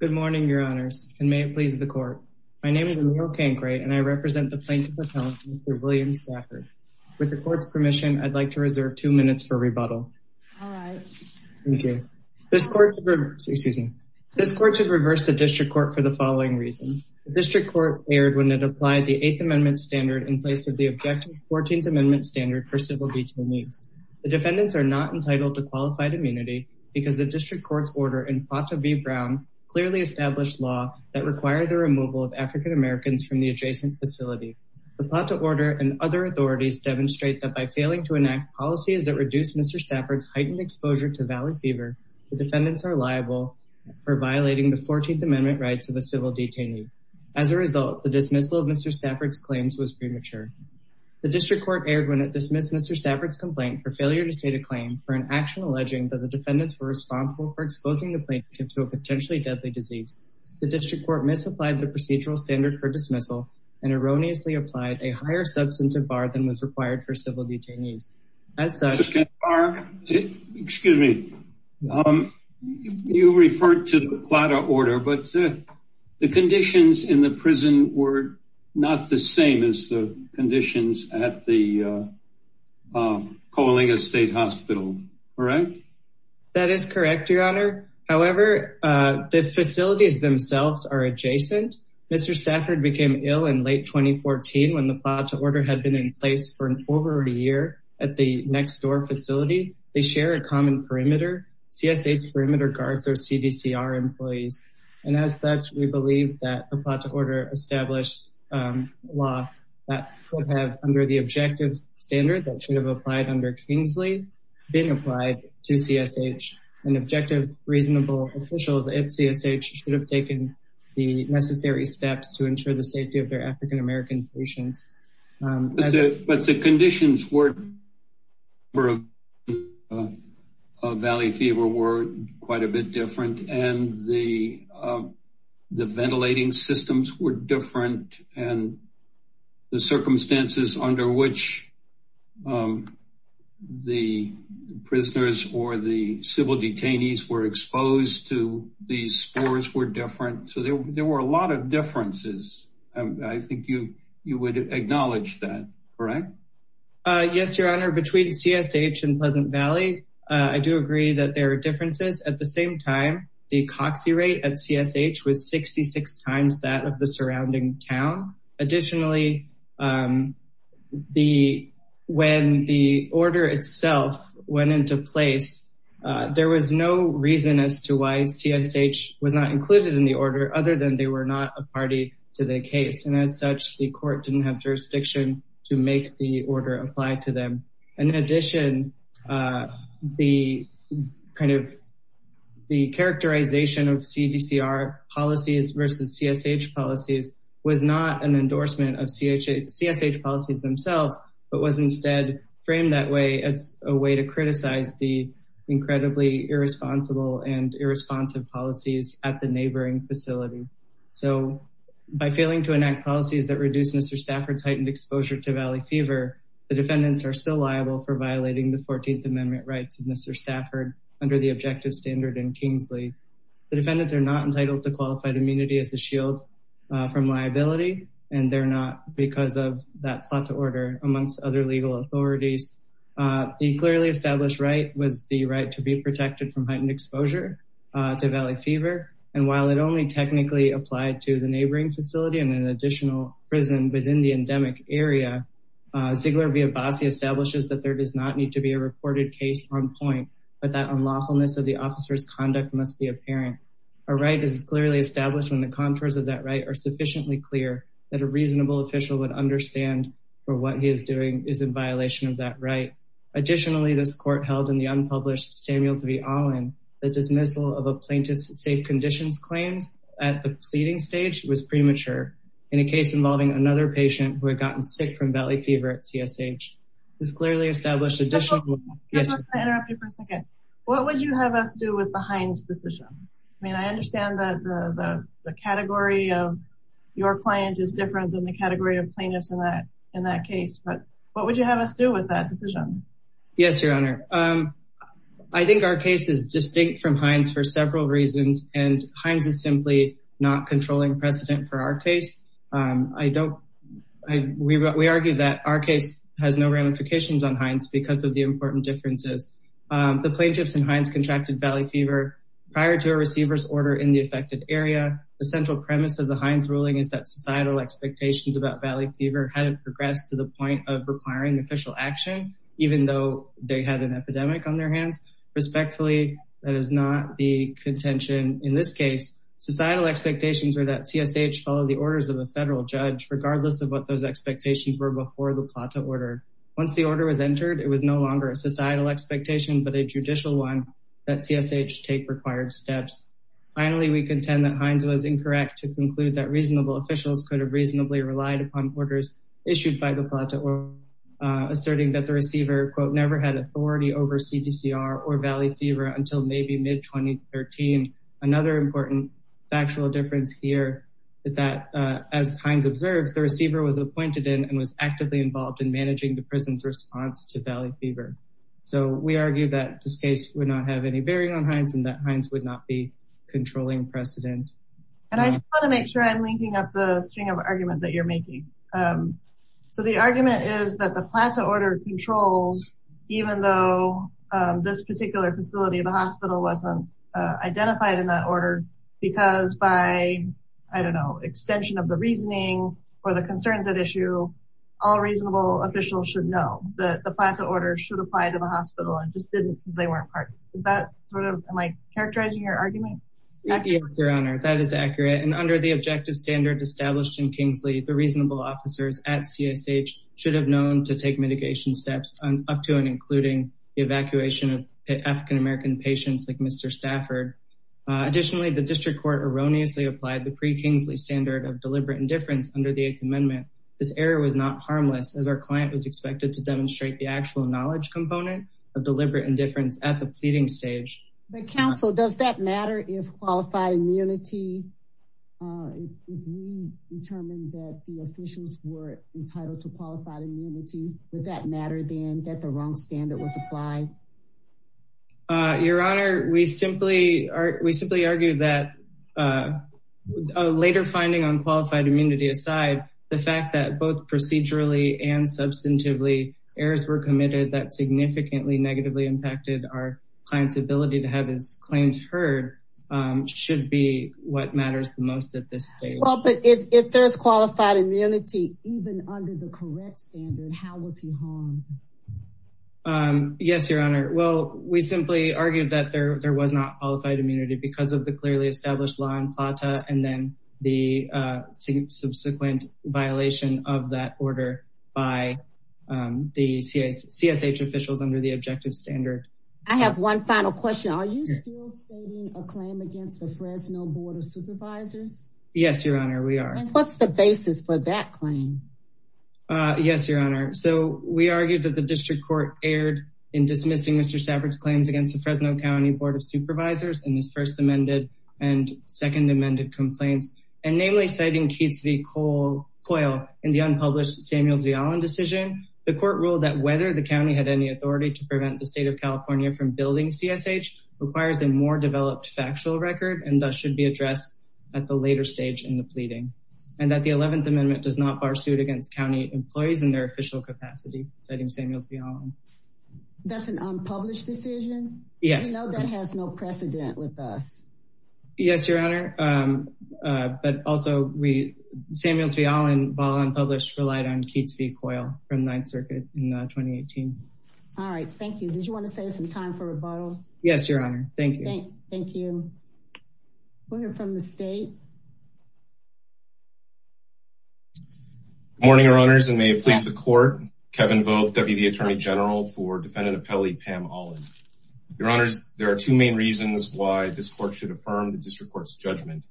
Good morning, your honors, and may it please the court. My name is Emil Cancray, and I represent the plaintiff's appellant, Mr. William Stafford. With the court's permission, I'd like to reserve two minutes for rebuttal. This court should reverse the district court for the following reasons. The district court erred when it applied the Eighth Amendment standard in place of the objective Fourteenth Amendment standard for civil detainees. The defendants are not entitled to qualified immunity because the district court's order in Plata v. Brown clearly established law that required the removal of African Americans from the adjacent facility. The Plata order and other authorities demonstrate that by failing to enact policies that reduce Mr. Stafford's heightened exposure to Valley Fever, the defendants are liable for violating the Fourteenth Amendment rights of a civil detainee. As a result, the dismissal of Mr. Stafford's claims was premature. The district court erred when it dismissed Mr. Stafford's complaint for failure to state a claim for an action alleging that the defendants were responsible for exposing the plaintiff to a potentially deadly disease. The district court misapplied the procedural standard for dismissal and erroneously applied a higher substance of bar than was required for civil detainees. As such... Excuse me. You referred to the Plata order, but the conditions in the prison were not the same as the conditions at the Coalinga State Hospital, correct? That is correct, Your Honor. However, the facilities themselves are adjacent. Mr. Stafford became ill in late 2014 when the Plata order had been in place for over a year at the next door facility. They share a common perimeter. CSA perimeter guards are CDCR employees. And as such, we believe that the Plata order established law that could have, under the objective standard that should have applied under Kingsley, been applied to CSH. And objective, reasonable officials at CSH should have taken the necessary steps to ensure the safety of their African American patients. But the conditions for Valley Fever were quite a bit different. And the ventilating systems were different. And the circumstances under which the prisoners or the civil detainees were exposed to these scores were different. So there were a lot of differences. I think you would acknowledge that, correct? Yes, Your Honor. Between CSH and Pleasant Valley, I do agree that there are differences. At the same time, the coxy rate at CSH was 66 times that of the surrounding town. Additionally, when the order itself went into place, there was no reason as to why CSH was not included in the order other than they were not a party to the case. And as such, the court didn't have jurisdiction to make the order apply to them. And in addition, the kind of the characterization of CDCR policies versus CSH policies was not an endorsement of CSH policies themselves, but was instead framed that way as a way to criticize the incredibly irresponsible and irresponsive policies at the neighboring facility. So by failing to enact policies that reduce Mr. Stafford's heightened exposure to Valley Fever, the defendants are still liable for violating the 14th Amendment rights of Mr. Stafford under the objective standard in Kingsley. The defendants are not entitled to qualified immunity as a shield from liability, and they're not because of that plot to order amongst other legal authorities. The clearly established right was the right to be protected from heightened exposure to Valley Fever. And while it only technically applied to the neighboring facility and an additional prison within the endemic area, Ziegler v. Abbasi establishes that there does not need to be a reported case on point, but that unlawfulness of the officer's conduct must be apparent. A right is clearly established when the contours of that right are sufficiently clear that a reasonable official would understand for what he is doing is in violation of that right. Additionally, this court held in the unpublished Samuels v. Allen, the dismissal of a plaintiff's safe conditions claims at the pleading stage was premature in a case involving another patient who had gotten sick from Valley Fever at CSH. What would you have us do with the Hines decision? I mean, I understand that the category of your client is different than the category of plaintiffs in that case, but what would you have us do with that decision? Yes, Your Honor. I think our case is distinct from Hines for several reasons, and Hines is simply not controlling precedent for our case. We argue that our case has no ramifications on Hines because of the important differences. The plaintiffs in Hines contracted Valley Fever prior to a receiver's order in the affected area. The central premise of the Hines ruling is that societal expectations about Valley Fever hadn't progressed to the point of requiring official action, even though they had an epidemic on their hands. Respectfully, that is not the contention in this case. Societal expectations were that CSH follow the orders of a federal judge, regardless of what those expectations were before the Plata order. Once the order was entered, it was no longer a societal expectation, but a judicial one that CSH take required steps. Finally, we contend that Hines was incorrect to conclude that reasonable officials could have reasonably relied upon orders issued by the Plata order, asserting that the receiver, quote, never had authority over CDCR or Valley Fever until maybe mid 2013. Another important factual difference here is that, as Hines observes, the receiver was appointed in and was actively involved in managing the prison's response to Valley Fever. So we argue that this case would not have any bearing on Hines and that Hines would not be controlling precedent. And I want to make sure I'm linking up the string of arguments that you're making. So the argument is that the Plata order controls, even though this particular facility, the hospital, wasn't identified in that order, because by, I don't know, extension of the reasoning or the concerns at issue, all reasonable officials should know that the Plata order should apply to the hospital and just didn't because they weren't parties. Is that sort of, am I characterizing your argument? Yes, Your Honor, that is accurate. And under the objective standard established in Kingsley, the reasonable officers at CSH should have known to take mitigation steps up to and including the evacuation of African-American patients like Mr. Stafford. Additionally, the district court erroneously applied the pre-Kingsley standard of deliberate indifference under the Eighth Amendment. This error was not harmless as our client was expected to demonstrate the actual knowledge component of deliberate indifference at the pleading stage. But counsel, does that matter if qualified immunity, if we determined that the officials were entitled to qualified immunity, would that matter then that the wrong standard was applied? Your Honor, we simply argue that a later finding on qualified immunity aside, the fact that both procedurally and substantively errors were committed that significantly negatively impacted our client's ability to have his claims heard should be what matters the most at this stage. But if there's qualified immunity, even under the correct standard, how was he harmed? Yes, Your Honor. Well, we simply argued that there was not qualified immunity because of the clearly established law in PLATA and then the subsequent violation of that order by the CSH officials under the objective standard. I have one final question. Are you still stating a claim against the Fresno Board of Supervisors? Yes, Your Honor, we are. Yes, Your Honor. So we argued that the district court erred in dismissing Mr. Stafford's claims against the Fresno County Board of Supervisors in his first amended and second amended complaints and namely citing Keats v. Coyle in the unpublished Samuels v. Allen decision. The court ruled that whether the county had any authority to prevent the state of California from building CSH requires a more developed factual record and thus should be addressed at the later stage in the pleading and that the 11th Amendment does not bar suit against county employees in their official capacity citing Samuels v. Allen. That's an unpublished decision? Yes. We know that has no precedent with us. Yes, Your Honor. But also, Samuels v. Allen, while unpublished, relied on Keats v. Coyle from Ninth Circuit in 2018. All right. Thank you. Did you want to save some time for rebuttal? Yes, Your Honor. Thank you. Thank you. We'll hear from the state. Good morning, Your Honors. And may it please the court, Kevin Vogt, Deputy Attorney General for Defendant Appellee Pam Allen. Your Honors, there are two main reasons why this court should affirm the district court's judgment.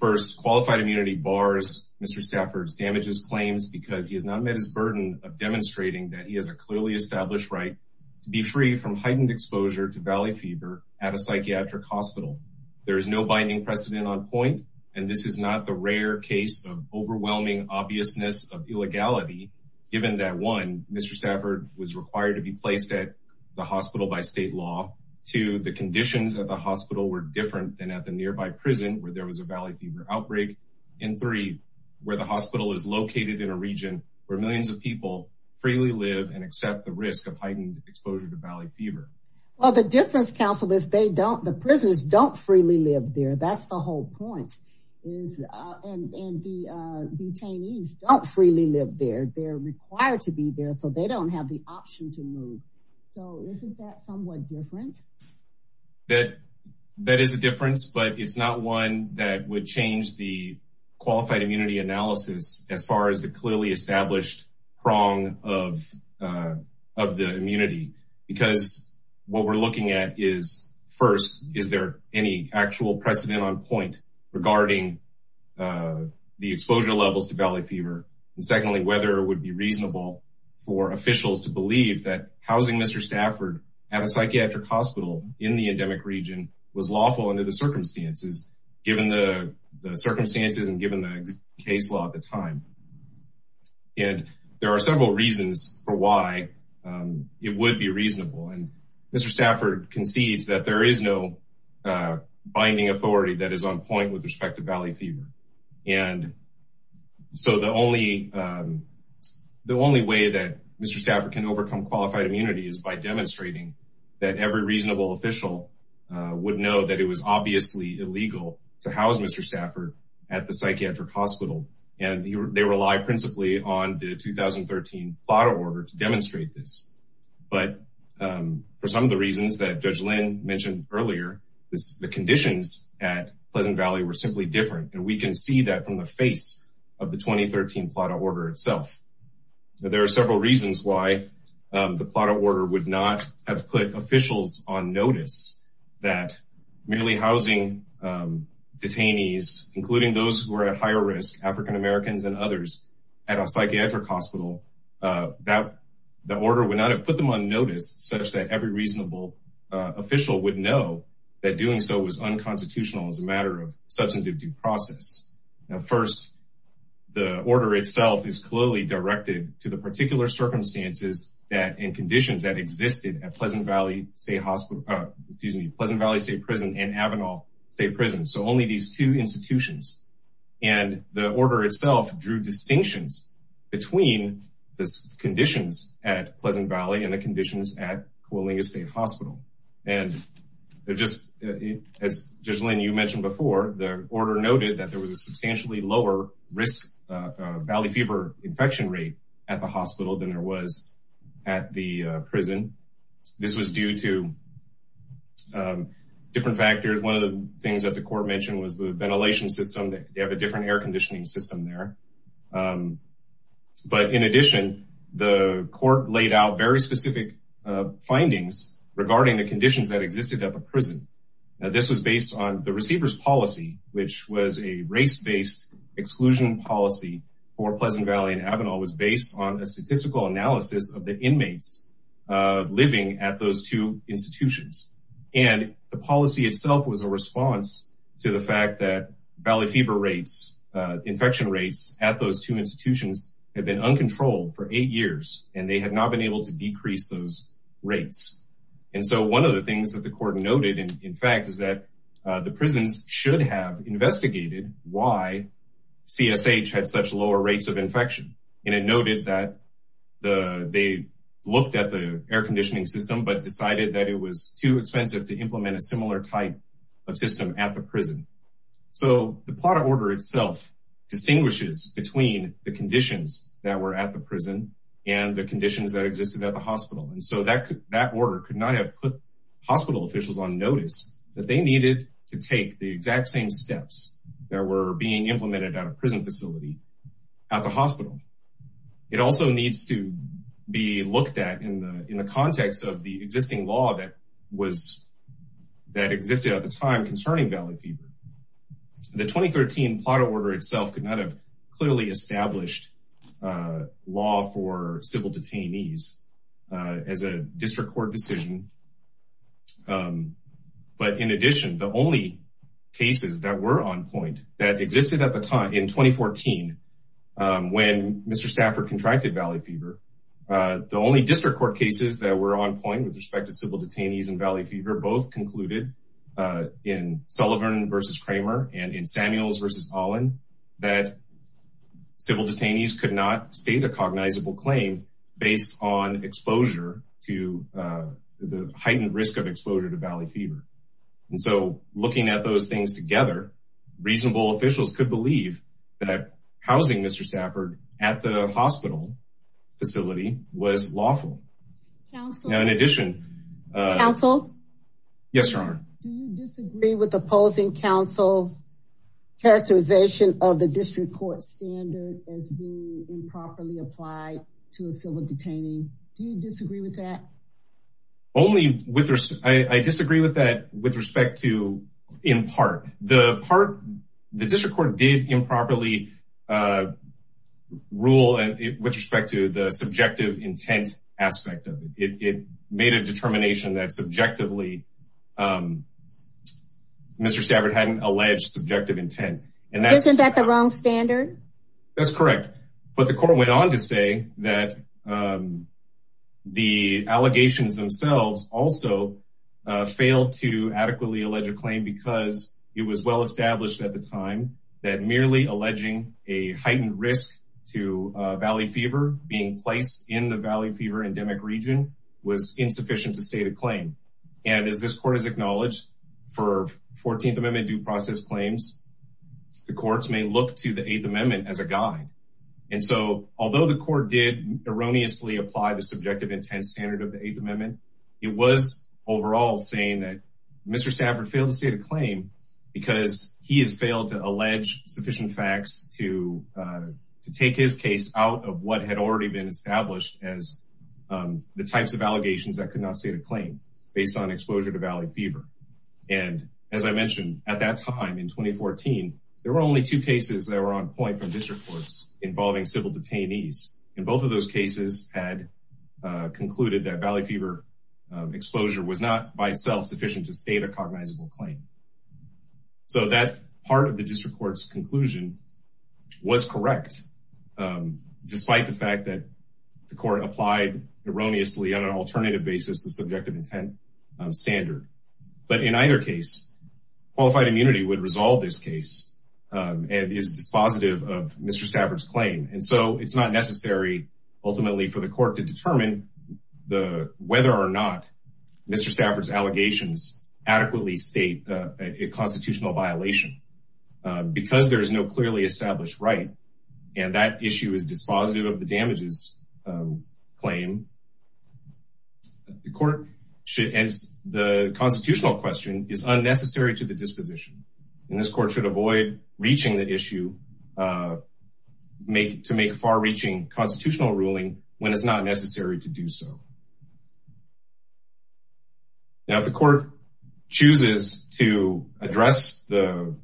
First, qualified immunity bars Mr. Stafford's damages claims because he has not met his burden of demonstrating that he has a clearly established right to be free from heightened exposure to valley fever at a psychiatric hospital. There is no binding precedent on point. And this is not the rare case of overwhelming obviousness of illegality, given that, one, Mr. Stafford was required to be placed at the hospital by state law. Two, the conditions at the hospital were different than at the nearby prison where there was a valley fever outbreak. And three, where the hospital is located in a region where millions of people freely live and accept the risk of heightened exposure to valley fever. Well, the difference, counsel, is they don't the prisoners don't freely live there. That's the whole point is and the detainees don't freely live there. They're required to be there. So they don't have the option to move. So isn't that somewhat different? That that is a difference, but it's not one that would change the qualified immunity analysis as far as the clearly established prong of of the immunity. Because what we're looking at is, first, is there any actual precedent on point regarding the exposure levels to valley fever? And secondly, whether it would be reasonable for officials to believe that housing Mr. Stafford at a psychiatric hospital in the endemic region was lawful under the circumstances, given the circumstances and given the case law at the time. And there are several reasons for why it would be reasonable. And Mr. Stafford concedes that there is no binding authority that is on point with respect to valley fever. And so the only the only way that Mr. Stafford can overcome qualified immunity is by demonstrating that every reasonable official would know that it was obviously illegal to house Mr. Stafford at the psychiatric hospital. And they rely principally on the 2013 plot order to demonstrate this. But for some of the reasons that Judge Lynn mentioned earlier, the conditions at Pleasant Valley were simply different. And we can see that from the face of the 2013 plot order itself. There are several reasons why the plot order would not have put officials on notice that merely housing detainees, including those who are at higher risk, African-Americans and others at a psychiatric hospital, that the order would not have put them on notice such that every reasonable official would know that doing so was unconstitutional as a matter of substantive due process. Now, first, the order itself is clearly directed to the particular circumstances that in conditions that existed at Pleasant Valley State Hospital, excuse me, Pleasant Valley State Prison and Avenal State Prison. So only these two institutions and the order itself drew distinctions between the conditions at Pleasant Valley and the conditions at Coalinga State Hospital. And as Judge Lynn, you mentioned before, the order noted that there was a substantially lower risk of valley fever infection rate at the hospital than there was at the prison. This was due to different factors. One of the things that the court mentioned was the ventilation system. They have a different air conditioning system there. But in addition, the court laid out very specific findings regarding the conditions that existed at the prison. This was based on the receiver's policy, which was a race based exclusion policy for Pleasant Valley and Avenal was based on a statistical analysis of the inmates living at those two institutions. And the policy itself was a response to the fact that valley fever rates, infection rates at those two institutions have been uncontrolled for eight years and they have not been able to decrease those rates. And so one of the things that the court noted, in fact, is that the prisons should have investigated why CSH had such lower rates of infection. And it noted that they looked at the air conditioning system, but decided that it was too expensive to implement a similar type of system at the prison. So the plot order itself distinguishes between the conditions that were at the prison and the conditions that existed at the hospital. And so that order could not have put hospital officials on notice that they needed to take the exact same steps that were being implemented at a prison facility at the hospital. It also needs to be looked at in the context of the existing law that existed at the time concerning valley fever. The 2013 plot order itself could not have clearly established law for civil detainees as a district court decision. But in addition, the only cases that were on point that existed at the time in 2014 when Mr. Stafford contracted valley fever, the only district court cases that were on point with respect to civil detainees and valley fever, both concluded in Sullivan versus Kramer and in Samuels versus Olin that civil detainees could not state a cognizable claim based on exposure to the heightened risk of exposure to valley fever. And so looking at those things together, reasonable officials could believe that housing Mr. Stafford at the hospital facility was lawful. Now, in addition, Counsel? Yes, Your Honor. Do you disagree with opposing counsel's characterization of the district court standard as being improperly applied to a civil detainee? Do you disagree with that? I disagree with that in part. The district court did improperly rule with respect to the subjective intent aspect of it. It made a determination that subjectively Mr. Stafford hadn't alleged subjective intent. Isn't that the wrong standard? That's correct. But the court went on to say that the allegations themselves also failed to adequately allege a claim because it was well established at the time that merely alleging a heightened risk to valley fever being placed in the valley fever endemic region was insufficient to state a claim. And as this court has acknowledged for 14th Amendment due process claims, the courts may look to the 8th Amendment as a guide. Although the court did erroneously apply the subjective intent standard of the 8th Amendment, it was overall saying that Mr. Stafford failed to state a claim because he has failed to allege sufficient facts to take his case out of what had already been established as the types of allegations that could not state a claim based on exposure to valley fever. And as I mentioned at that time in 2014, there were only two cases that were on point from district courts involving civil detainees. And both of those cases had concluded that valley fever exposure was not by itself sufficient to state a cognizable claim. So that part of the district court's conclusion was correct, despite the fact that the court applied erroneously on an alternative basis, the subjective intent standard. But in either case, qualified immunity would resolve this case and is dispositive of Mr. Stafford's claim. And so it's not necessary ultimately for the court to determine whether or not Mr. Stafford's allegations adequately state a constitutional violation. Because there is no clearly established right, and that issue is dispositive of the damages claim, the constitutional question is unnecessary to the disposition. And this court should avoid reaching the issue to make far-reaching constitutional ruling when it's not necessary to do so. Now, if the court chooses to address the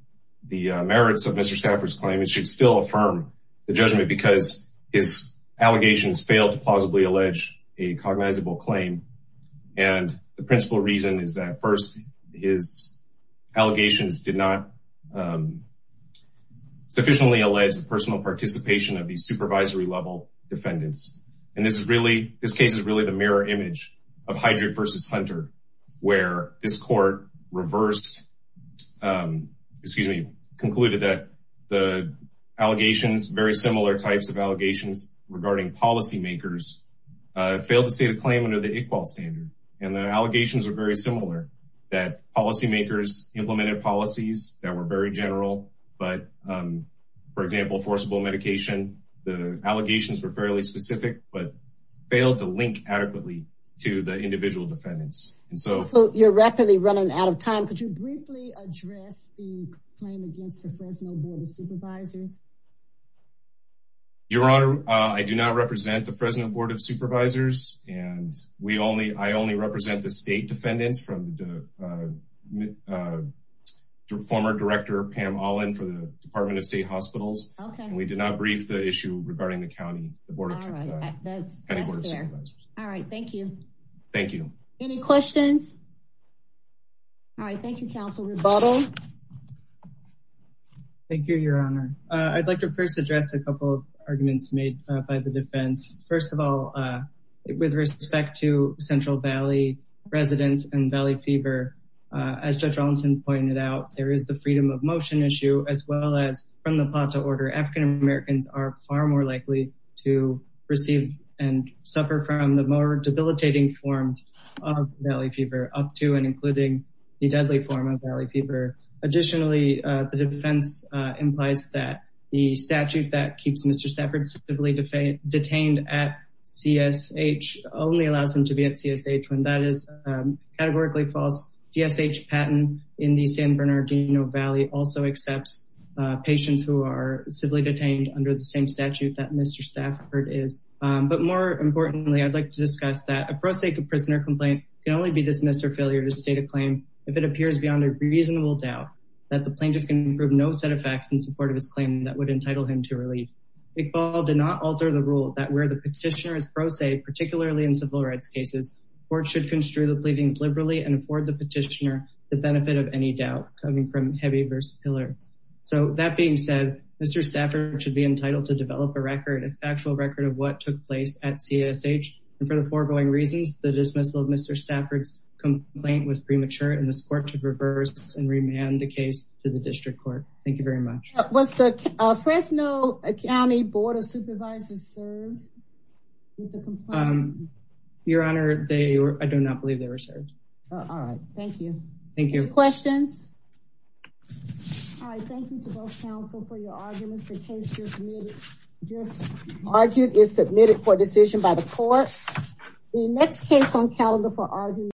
merits of Mr. Stafford's claim, it should still affirm the judgment because his allegations failed to plausibly allege a cognizable claim. And the principal reason is that first, his allegations did not sufficiently allege the personal participation of the supervisory level defendants. And this is really, this case is really the mirror image of Heidrich versus Hunter, where this court reversed, excuse me, concluded that the allegations, very similar types of allegations regarding policymakers failed to state a claim under the ICQOL standard. And the allegations are very similar, that policymakers implemented policies that were very general. But for example, forcible medication, the allegations were fairly specific, but failed to link adequately to the individual defendants. And so you're rapidly running out of time. Could you briefly address the claim against the Fresno Board of Supervisors? Your Honor, I do not represent the Fresno Board of Supervisors. And we only, I only represent the state defendants from the former director, Pam Olin, for the Department of State Hospitals. And we did not brief the issue regarding the county, the Board of Supervisors. All right. Thank you. Thank you. Any questions? All right. Thank you, counsel. Rebuttal. Thank you, Your Honor. I'd like to first address a couple of arguments made by the defense. First of all, with respect to Central Valley residents and Valley Fever, as Judge Rollinson pointed out, there is the freedom of motion issue, as well as from the plot to order. Additionally, the defense implies that the statute that keeps Mr. Stafford civilly detained at CSH only allows him to be at CSH when that is categorically false. DSH patent in the San Bernardino Valley also accepts patients who are civilly detained under the same statute that Mr. Stafford is. But more importantly, I'd like to discuss that a pro se prisoner complaint can only be dismissed or failure to state a claim if it appears beyond a reasonable doubt that the plaintiff can prove no set of facts in support of his claim that would entitle him to relief. Iqbal did not alter the rule that where the petitioner is pro se, particularly in civil rights cases, court should construe the pleadings liberally and afford the petitioner the benefit of any doubt coming from heavy versus pillar. So that being said, Mr. Stafford should be entitled to develop a record, a factual record of what took place at CSH. And for the foregoing reasons, the dismissal of Mr. Stafford's complaint was premature, and this court should reverse and remand the case to the district court. Thank you very much. Was the Fresno County Board of Supervisors served with the complaint? Your Honor, I do not believe they were served. All right. Thank you. Thank you. Any questions? All right. Thank you to both counsel for your arguments. The case just argued is submitted for decision by the court. The next case on calendar for argument.